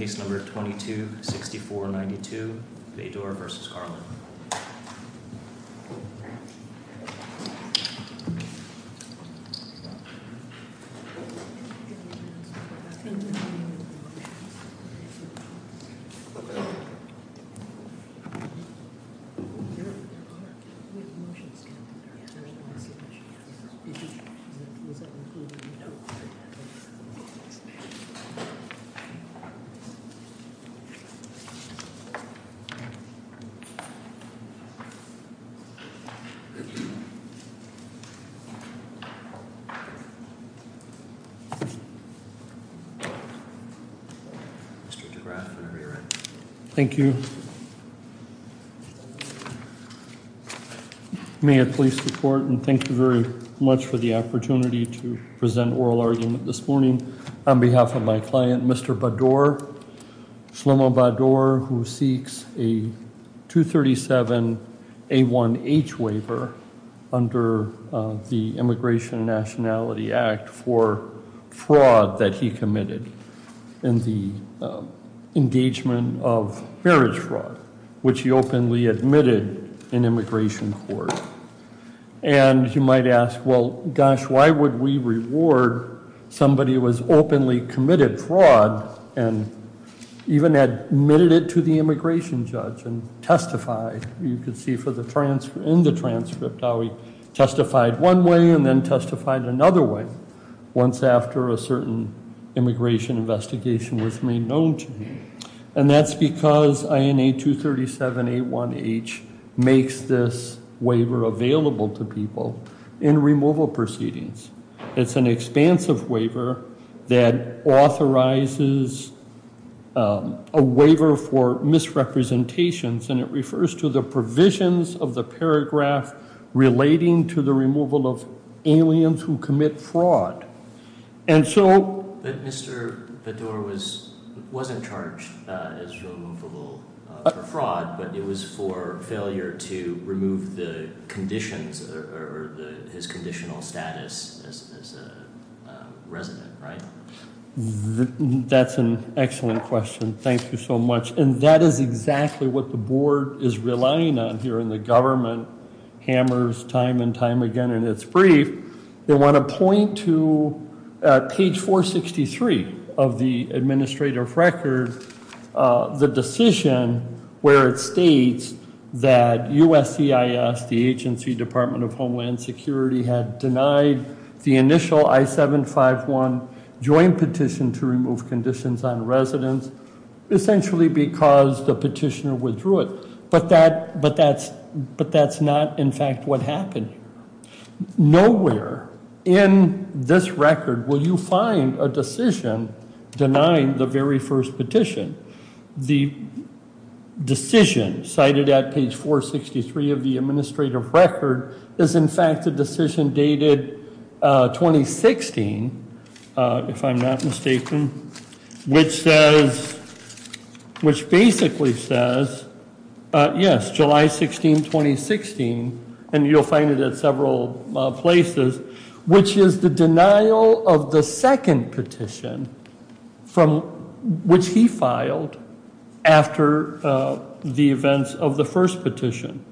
Case number 22-6492, Bador v. Garland Mr. DeGraff, I'm going to re-read. Thank you. May it please the court, and thank you very much for the opportunity to present oral argument this morning. On behalf of my client, Mr. Bador, Shlomo Bador, who seeks a 237-A1H waiver under the Immigration and Nationality Act for fraud that he committed in the engagement of marriage fraud, which he openly admitted in immigration court. And you might ask, well, gosh, why would we reward somebody who has openly committed fraud and even admitted it to the immigration judge and testified? You can see in the transcript how he testified one way and then testified another way once after a certain immigration investigation was made known to him. And that's because INA 237-A1H makes this waiver available to people in removal proceedings. It's an expansive waiver that authorizes a waiver for misrepresentations, and it refers to the provisions of the paragraph relating to the removal of aliens who commit fraud. And so... Mr. Bador wasn't charged as a victim of fraud or failure to remove the conditions or his conditional status as a resident, right? That's an excellent question. Thank you so much. And that is exactly what the board is relying on here, and the government hammers time and time again in its brief. They want to point to page 463 of the administrative record the decision where it states that USCIS, the agency department of homeland security, had denied the initial I-751 joint petition to remove conditions on residents essentially because the petitioner withdrew it. But that's not, in fact, what denied the very first petition. The decision cited at page 463 of the administrative record is, in fact, a decision dated 2016, if I'm not mistaken, which basically says, yes, July 16, 2016, and you'll find it at several places, which is the denial of the second petition from which he filed after the events of the first petition.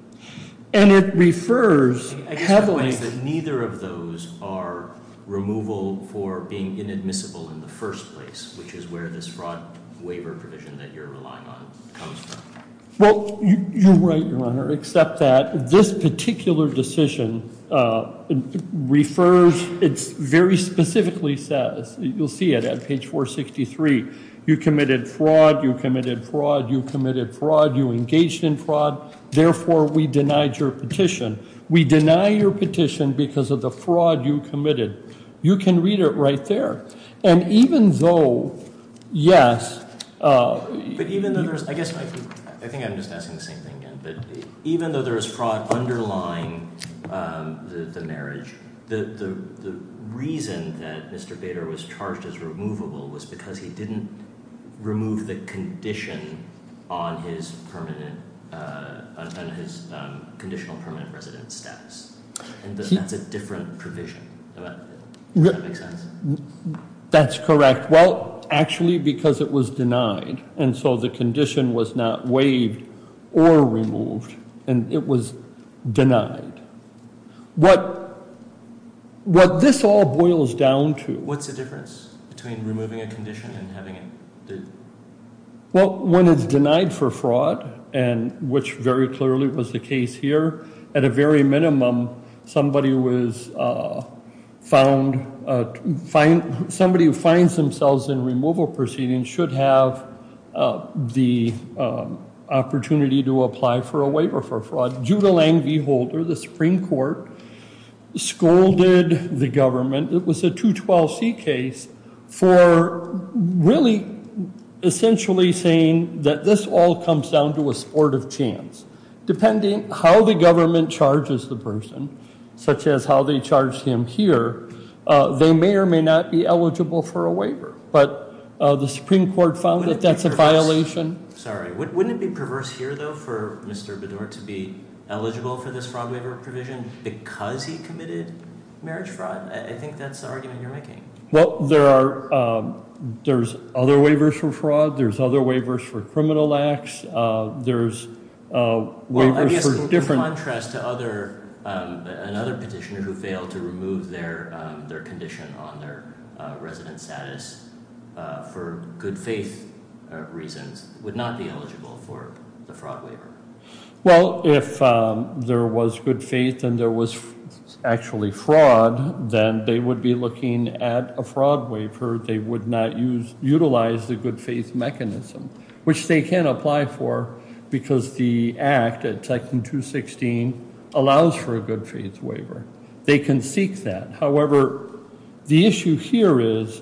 And it refers heavily... I guess the point is that neither of those are removal for being inadmissible in the first place, which is where this fraud waiver provision that you're relying on comes from. Well, you're right, your honor, except that this particular decision refers, it very specifically says, you'll see it at page 463, you committed fraud, you committed fraud, you committed fraud, you engaged in fraud, therefore we denied your petition. We deny your petition because of the fraud you committed. You can read it right there. And even though, yes... But even though there's, I guess, I think I'm just asking the same thing again, but the reason that Mr. Bader was charged as removable was because he didn't remove the condition on his conditional permanent residence status, and that's a different provision. That's correct. Well, actually, because it was denied, and so the condition was not waived or removed, and it was denied. What this all boils down to... What's the difference between removing a condition and having it... Well, when it's denied for fraud, and which very clearly was the case here, at a very minimum, somebody was found... Somebody who finds themselves in removal proceedings should have the opportunity to apply for a waiver for fraud. Judah Lang v. Holder, the Supreme Court, scolded the government, it was a 212C case, for really essentially saying that this all comes down to a sport of chance. Depending how the government charges the person, such as how they charged him here, they may or may not be eligible for a waiver. But the Supreme Court found that that's a violation. Sorry. Wouldn't it be perverse here though for Mr. Bader to be eligible for this fraud waiver provision because he committed marriage fraud? I think that's the argument you're making. Well, there's other waivers for fraud, there's other waivers for criminal acts, there's waivers for different... Well, I guess in contrast to another petitioner to remove their condition on their resident status for good faith reasons, would not be eligible for the fraud waiver. Well, if there was good faith and there was actually fraud, then they would be looking at a fraud waiver, they would not utilize the good faith mechanism, which they can apply for because the act at section 216 allows for a good faith waiver. They can seek that. However, the issue here is,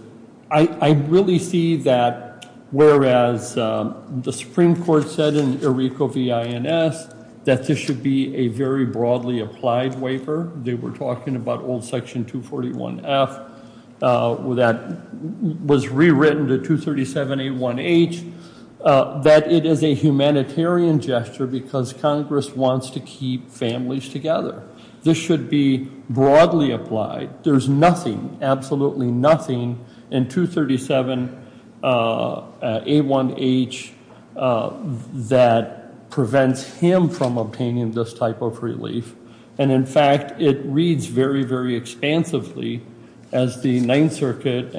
I really see that whereas the Supreme Court said in ERICO V.I.N.S. that this should be a very broadly applied waiver. They were talking about old section 241 F that was rewritten to 237 A1H, that it is a humanitarian gesture because Congress wants to keep families together. This should be broadly applied. There's nothing, absolutely nothing in 237 A1H that prevents him from obtaining this type of relief. And in fact, it reads very, very expansively as the Ninth Circuit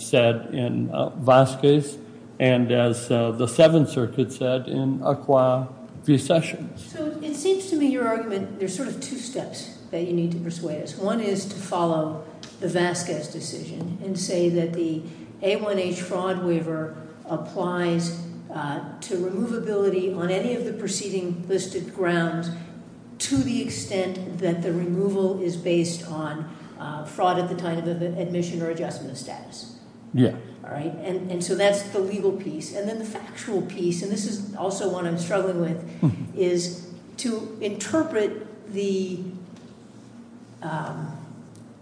said in Vasquez and as the Seventh Circuit said in Acqua Recession. So it seems to me your argument, there's sort of two steps that you need to persuade us. One is to follow the Vasquez decision and say that the A1H fraud waiver applies to removability on any of the preceding listed grounds to the extent that the removal is based on fraud at the time of the admission or adjustment of status. Yeah. All right. And so that's the legal piece. And then the factual piece, and this is also one I'm struggling with, is to interpret the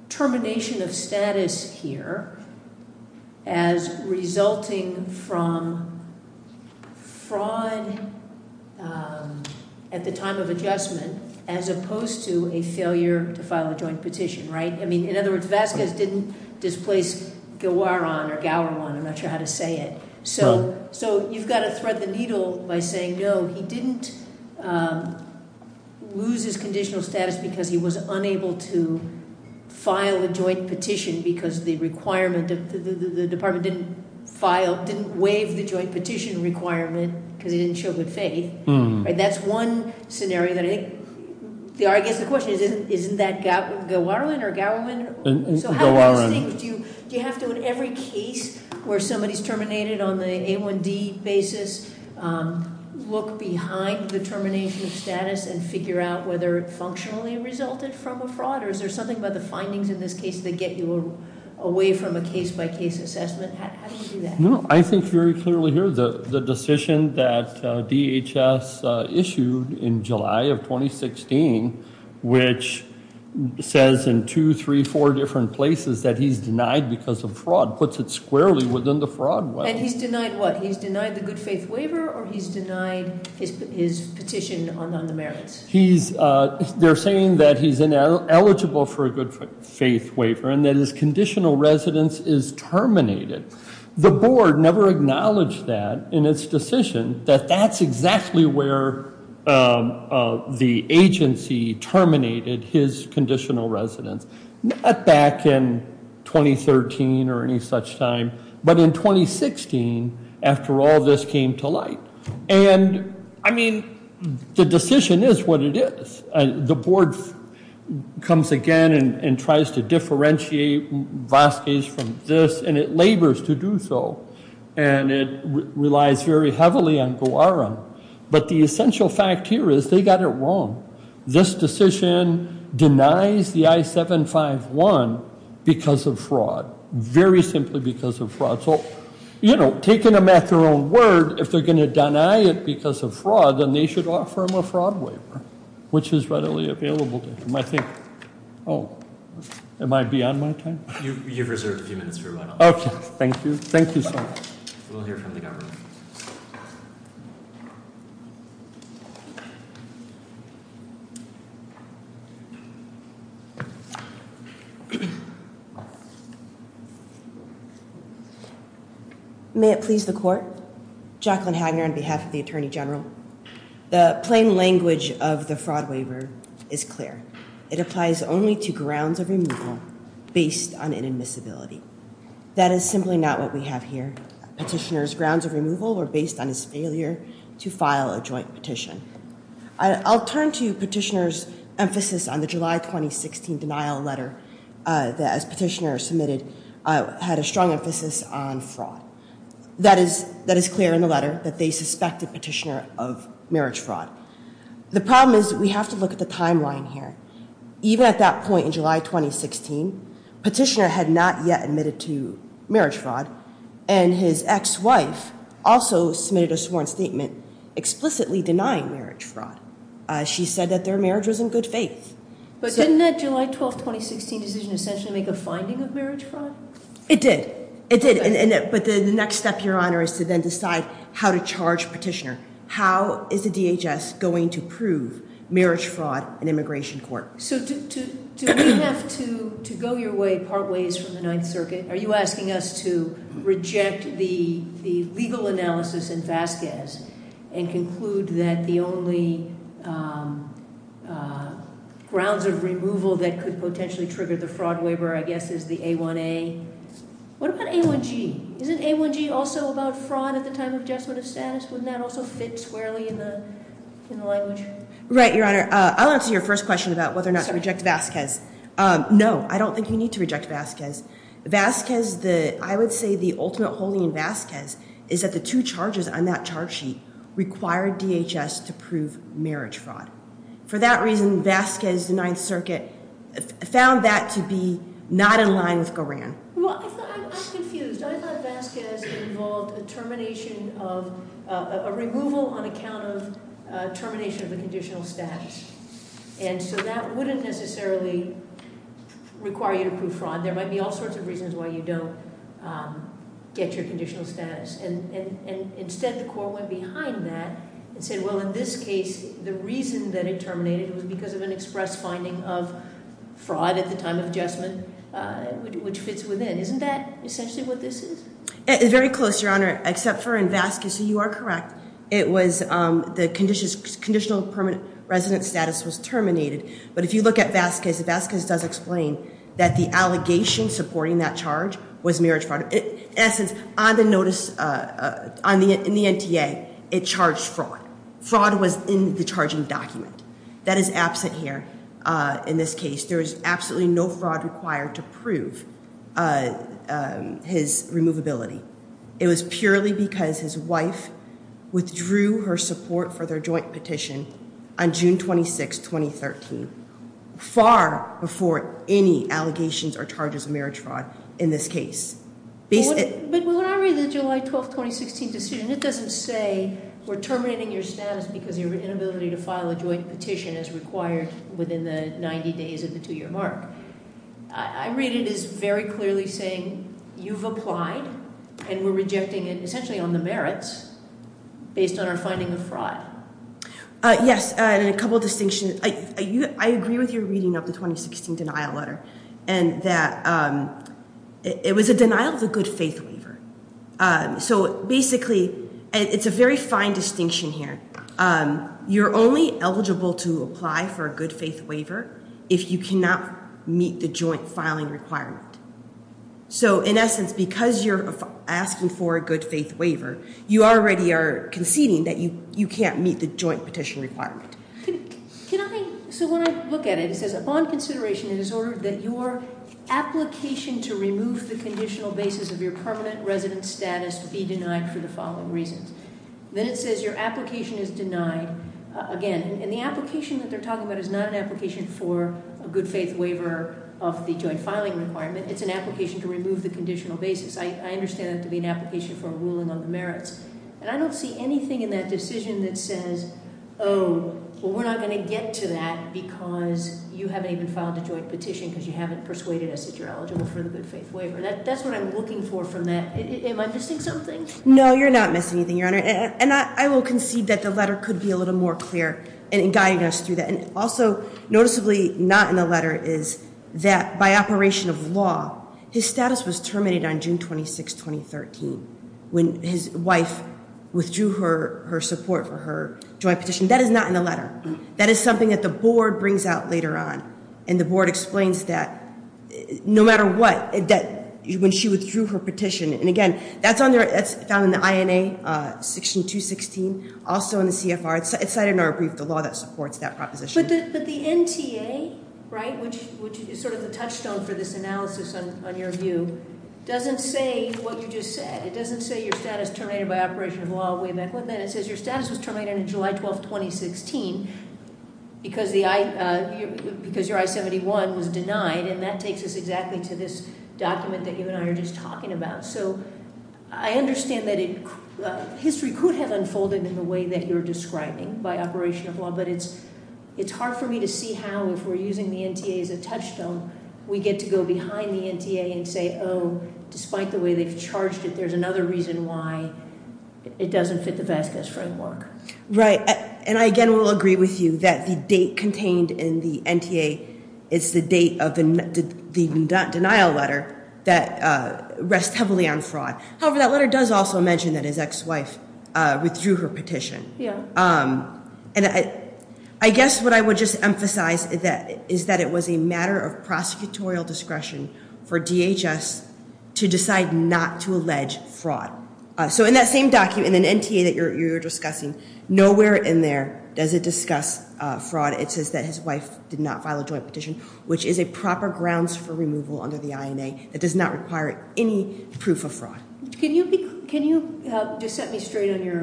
termination of status here as resulting from fraud at the time of adjustment as opposed to a failure to file a joint petition, right? I mean, in other words, Vasquez didn't displace Gowaron, I'm not sure how to say it. No. So you've got to thread the needle by saying, no, he didn't lose his conditional status because he was unable to file a joint petition because the requirement, the department didn't file, the joint petition requirement because he didn't show good faith, right? That's one scenario that I think, I guess the question is, isn't that Gowaron or Gowaron? Gowaron. So how do you think, do you have to, in every case where somebody's terminated on the A1D basis, look behind the termination of status and figure out whether it functionally resulted from a fraud, or is there something about the findings in this case that get you away from a case-by-case assessment? How do you do that? I think very clearly here, the decision that DHS issued in July of 2016, which says in two, three, four different places that he's denied because of fraud, puts it squarely within the fraud web. And he's denied what? He's denied the good faith waiver or he's denied his petition on the merits? They're saying that he's ineligible for a good faith waiver and that his conditional residence is terminated. The board never acknowledged that in its decision, that that's exactly where the agency terminated his conditional residence. Not back in 2013 or any such time, but in 2016 after all this came to light. And I mean, the decision is what it is. The board comes again and tries to differentiate Vasquez from this, and it labors to do so. And it relies very heavily on Gowaram. But the essential fact here is they got it wrong. This decision denies the I-751 because of fraud, very simply because of fraud. So, you know, taking them at their own word, if they're going to deny it because of fraud, then they should offer him a fraud waiver, which is readily available to him, I think. Oh, am I beyond my time? You've reserved a few minutes for a while. Okay. Thank you. Thank you so much. We'll hear from the government. May it please the court. Jacqueline Hagner on behalf of the Attorney General. The plain language of the fraud waiver is clear. It applies only to grounds of removal based on inadmissibility. That is simply not what we have here. Petitioner's grounds of removal were based on his failure to file a joint petition. I'll turn to petitioner's emphasis on the July 2016 denial letter that as petitioner submitted, had a strong emphasis on fraud. That is clear in the letter that they suspected petitioner of marriage fraud. The problem is we have to look at the timeline here. Even at that point in July 2016, petitioner had not yet admitted to marriage fraud and his ex-wife also submitted a sworn statement explicitly denying marriage fraud. She said that their marriage was in good faith. But didn't that July 12, 2016 decision make a finding of marriage fraud? It did. It did. But the next step, Your Honor, is to then decide how to charge petitioner. How is the DHS going to prove marriage fraud in immigration court? So do we have to go your way part ways from the Ninth Circuit? Are you asking us to reject the legal analysis in Vasquez and conclude that the only grounds of removal that could potentially trigger the fraud waiver, I guess, is the A1A? What about A1G? Isn't A1G also about fraud at the time of adjustment of status? Wouldn't that also fit squarely in the language? Right, Your Honor. I'll answer your first question about whether or not to reject Vasquez. No, I don't think you need to reject Vasquez. Vasquez, I would say the ultimate holding in Vasquez is that the two charges on that charge sheet required DHS to prove marriage fraud. For that reason, Vasquez, the Ninth Circuit, found that to be not in line with Goran. Well, I'm confused. I thought Vasquez involved a termination of, a removal on account of termination of the conditional status. And so that wouldn't necessarily require you to prove fraud. There might be all sorts of reasons why you don't get your conditional status. And instead, the court went behind that and said, well, in this case, the reason that it terminated was because of an express finding of fraud at the time of adjustment, which fits within. Isn't that essentially what this is? Very close, Your Honor, except for in Vasquez. So you are correct. It was the conditional permanent resident status was terminated. But if you look at Vasquez, Vasquez does explain that the allegation supporting that charge was marriage fraud. In essence, on the notice, in the NTA, it charged fraud. Fraud was in the charging document. That is absent here. In this case, there is absolutely no fraud required to prove his removability. It was purely because his wife withdrew her support for their joint petition on June 26, 2013, far before any allegations or charges of marriage fraud in this case. But when I read the July 12, 2016 decision, it doesn't say we're terminating your status because of your inability to file a joint petition as required within the 90 days of the two-year mark. I read it as very clearly saying you've applied and we're rejecting it essentially on the merits based on our finding of fraud. Yes, and a couple of distinctions. I agree with your reading of the 2016 denial letter and that it was a denial of a good faith waiver. So basically, it's a very fine distinction here. You're only eligible to apply for a good faith waiver if you cannot meet the joint filing requirement. So in essence, because you're asking for a good faith waiver, you already are conceding that you can't meet the joint petition requirement. Can I? So when I look at it, it says, upon consideration, it is ordered that your application to remove the conditional basis of your permanent residence status be denied for the following reasons. Then it says your application is denied again. And the application that they're talking about is not an application for a good faith waiver of the joint filing requirement. It's an application to remove the conditional basis. I understand it to be an application for a ruling on the merits. And I don't see anything in that decision that says, oh, well, we're not going to get to that because you haven't even filed a joint petition because you haven't persuaded us that you're eligible for the good faith waiver. That's what I'm looking for from that. Am I missing something? No, you're not missing anything, Your Honor. And I will concede that the letter could be a little more clear in guiding us through that. And also, noticeably not in the letter is that by operation of law, his status was terminated on June 26, 2013, when his wife withdrew her support for her joint petition. That is not in the letter. That is something that the board brings out later on. And the board explains that no matter what, that when she withdrew her petition, and again, that's found in the INA section 216, also in the CFR. It's cited in our brief, the law that supports that proposition. But the NTA, right, which is sort of the touchstone for this analysis on your view, doesn't say what you just said. It doesn't say your status terminated by operation of law way back when. It says your status was terminated on July 12, 2016, because your I-71 was denied. And that takes us exactly to this document that you and I are just talking about. So I understand that history could have unfolded in the way that you're describing by operation of law. But it's hard for me to see how, if we're using the NTA as a touchstone, we get to go behind the NTA and say, oh, despite the way they've charged it, there's another reason why it doesn't fit the Vasquez framework. Right. And I, again, will agree with you that the date contained in the NTA is the date of the denial letter that rests heavily on fraud. However, that letter does also mention that his ex-wife withdrew her petition. And I guess what I would just emphasize is that it was a matter of prosecutorial discretion for DHS to decide not to allege fraud. So in that same document, in the NTA that you're discussing, nowhere in there does it discuss fraud. It says that his wife did not file a joint petition, which is a proper grounds for removal under the INA that does not require any proof of fraud. Can you just set me to rule for you?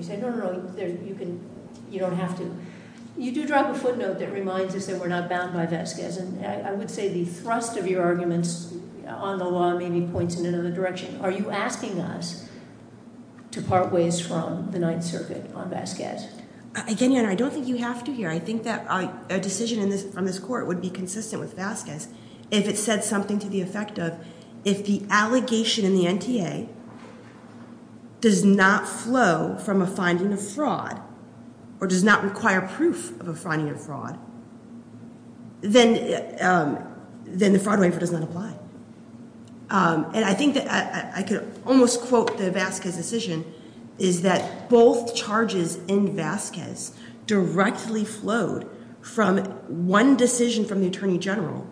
Say, no, no, no, you don't have to. You do drop a footnote that reminds us that we're not bound by Vasquez. And I would say the thrust of your arguments on the law maybe points in another direction. Are you asking us to part ways from the Ninth Circuit on Vasquez? Again, Your Honor, I don't think you have to here. I think that a decision on this court would be consistent with Vasquez if it said something to the effect of, if the allegation in the NTA does not flow from a finding of fraud or does not require proof of a finding of fraud, then the fraud waiver does not apply. And I think that I could almost quote the Vasquez decision, is that both charges in Vasquez directly flowed from one decision from the Attorney General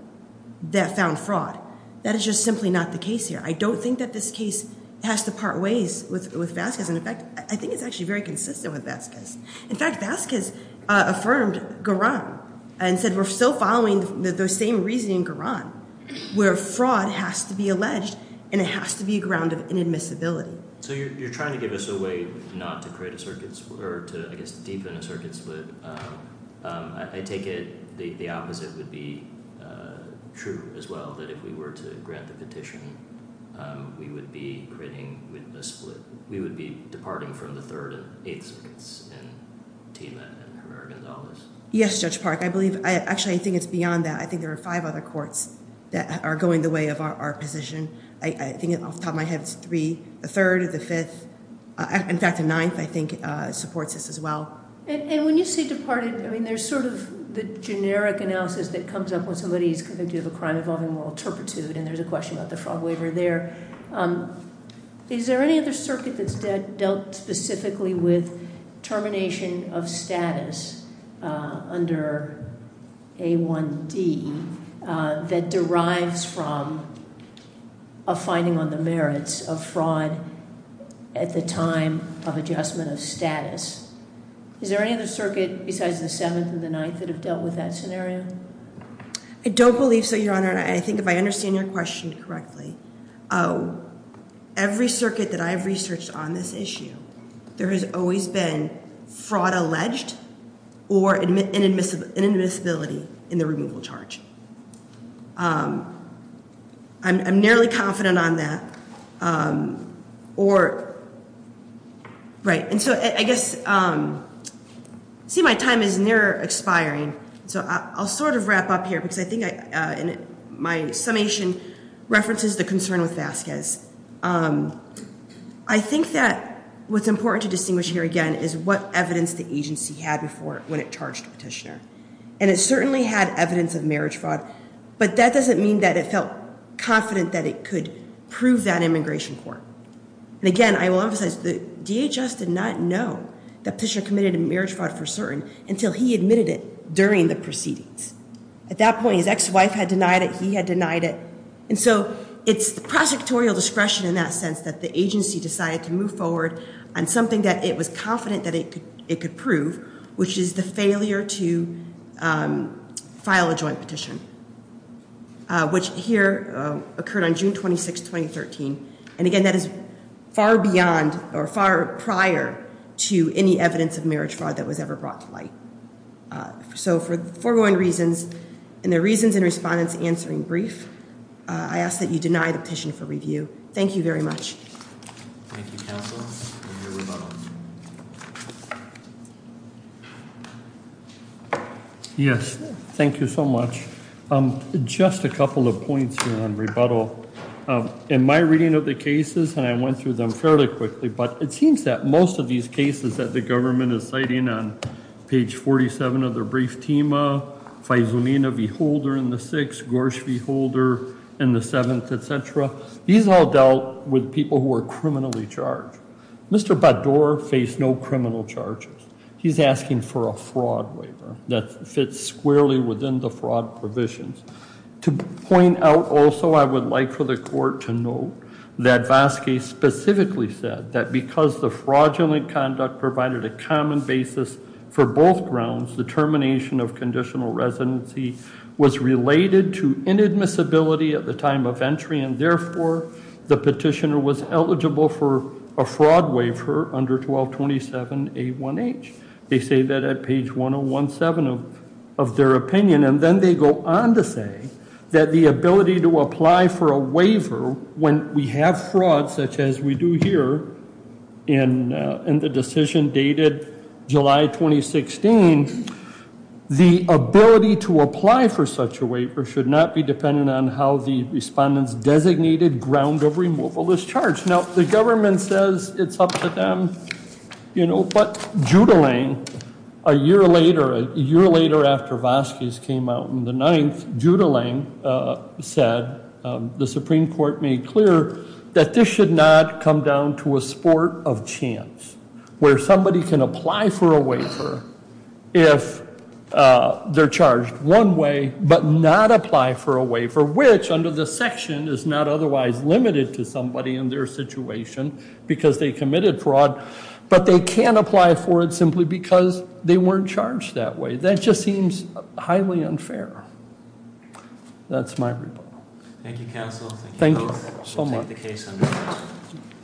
that found fraud. That is just simply not the case here. I don't think that this case has to part ways with Vasquez. And in fact, I think it's actually very consistent with Vasquez. In fact, Vasquez affirmed Garan and said we're still following the same reasoning in Garan, where fraud has to be alleged and it has to be a ground of inadmissibility. So you're trying to give us a way not to create a circuit or to, I guess, deepen a circuit split. I take it the opposite would be true as well, that if we were to grant the petition, we would be creating a split. We would be departing from the third and eighth circuits in Tima and American Dollars. Yes, Judge Park, I believe. Actually, I think it's beyond that. I think there are five other courts that are going the way of our position. I think off the top of my head, it's three, the third or the fifth. In fact, the ninth, I think, supports this as well. And when you say departed, I mean, there's sort of the generic analysis that comes up when somebody is convicted of a crime involving moral turpitude, and there's a question about the fraud waiver there. Is there any other circuit that's dealt specifically with termination of status under A1D that derives from a finding on the merits of fraud at the time of adjustment of status? Is there any other circuit besides the seventh and the ninth that have dealt with that scenario? I don't believe so, Your Honor. And I think if I understand your question correctly, every circuit that I've researched on this issue, there has always been fraud alleged or inadmissibility in the removal charge. I'm nearly confident on that. Right. And so I guess, see, my time is near expiring, so I'll sort of wrap up here because I think my summation references the concern with Vasquez. I think that what's important to distinguish here, again, is what evidence the agency had before when it charged Petitioner. And it certainly had evidence of marriage fraud, but that doesn't mean that it felt confident that it could prove that immigration court. And again, I will emphasize that DHS did not know that Petitioner committed a marriage fraud for certain until he admitted it during the proceedings. At that point, his ex-wife had denied it. He had denied it. And so it's the prosecutorial discretion in that sense that the agency decided to move forward on something that it was confident that it could prove, which is the failure to file a joint petition, which here occurred on June 26, 2013. And again, that is far beyond or far prior to any evidence of marriage fraud that was ever brought to light. So for the foregoing reasons and the reasons and respondents answering brief, I ask that you deny the petition for review. Thank you very much. Thank you, counsel. And your rebuttal. Yes. Thank you so much. Just a couple of points here on rebuttal. In my reading of the cases, and I went through them fairly quickly, but it seems that most of these cases that the government is citing on page 47 of the brief TEMA, Faizulina v. Holder in the sixth, Gorsh v. Holder in the criminal case, they are people who are criminally charged. Mr. Baddour faced no criminal charges. He's asking for a fraud waiver that fits squarely within the fraud provisions. To point out also, I would like for the court to note that Vasquez specifically said that because the fraudulent conduct provided a common basis for both grounds, the termination of conditional residency was related to inadmissibility at the time of entry, and therefore, the petitioner was eligible for a fraud waiver under 1227A1H. They say that at page 1017 of their opinion, and then they go on to say that the ability to apply for a waiver when we have fraud, such as we do here in the should not be dependent on how the respondent's designated ground of removal is charged. Now, the government says it's up to them, you know, but Judelang, a year later, a year later after Vasquez came out in the ninth, Judelang said, the Supreme Court made clear that this should not come down to a sport of chance, where somebody can apply for a waiver if they're charged one way, but not apply for a waiver which, under the section, is not otherwise limited to somebody in their situation because they committed fraud, but they can apply for it simply because they weren't charged that way. That just seems highly unfair. That's my report. Thank you, counsel. Thank you so much.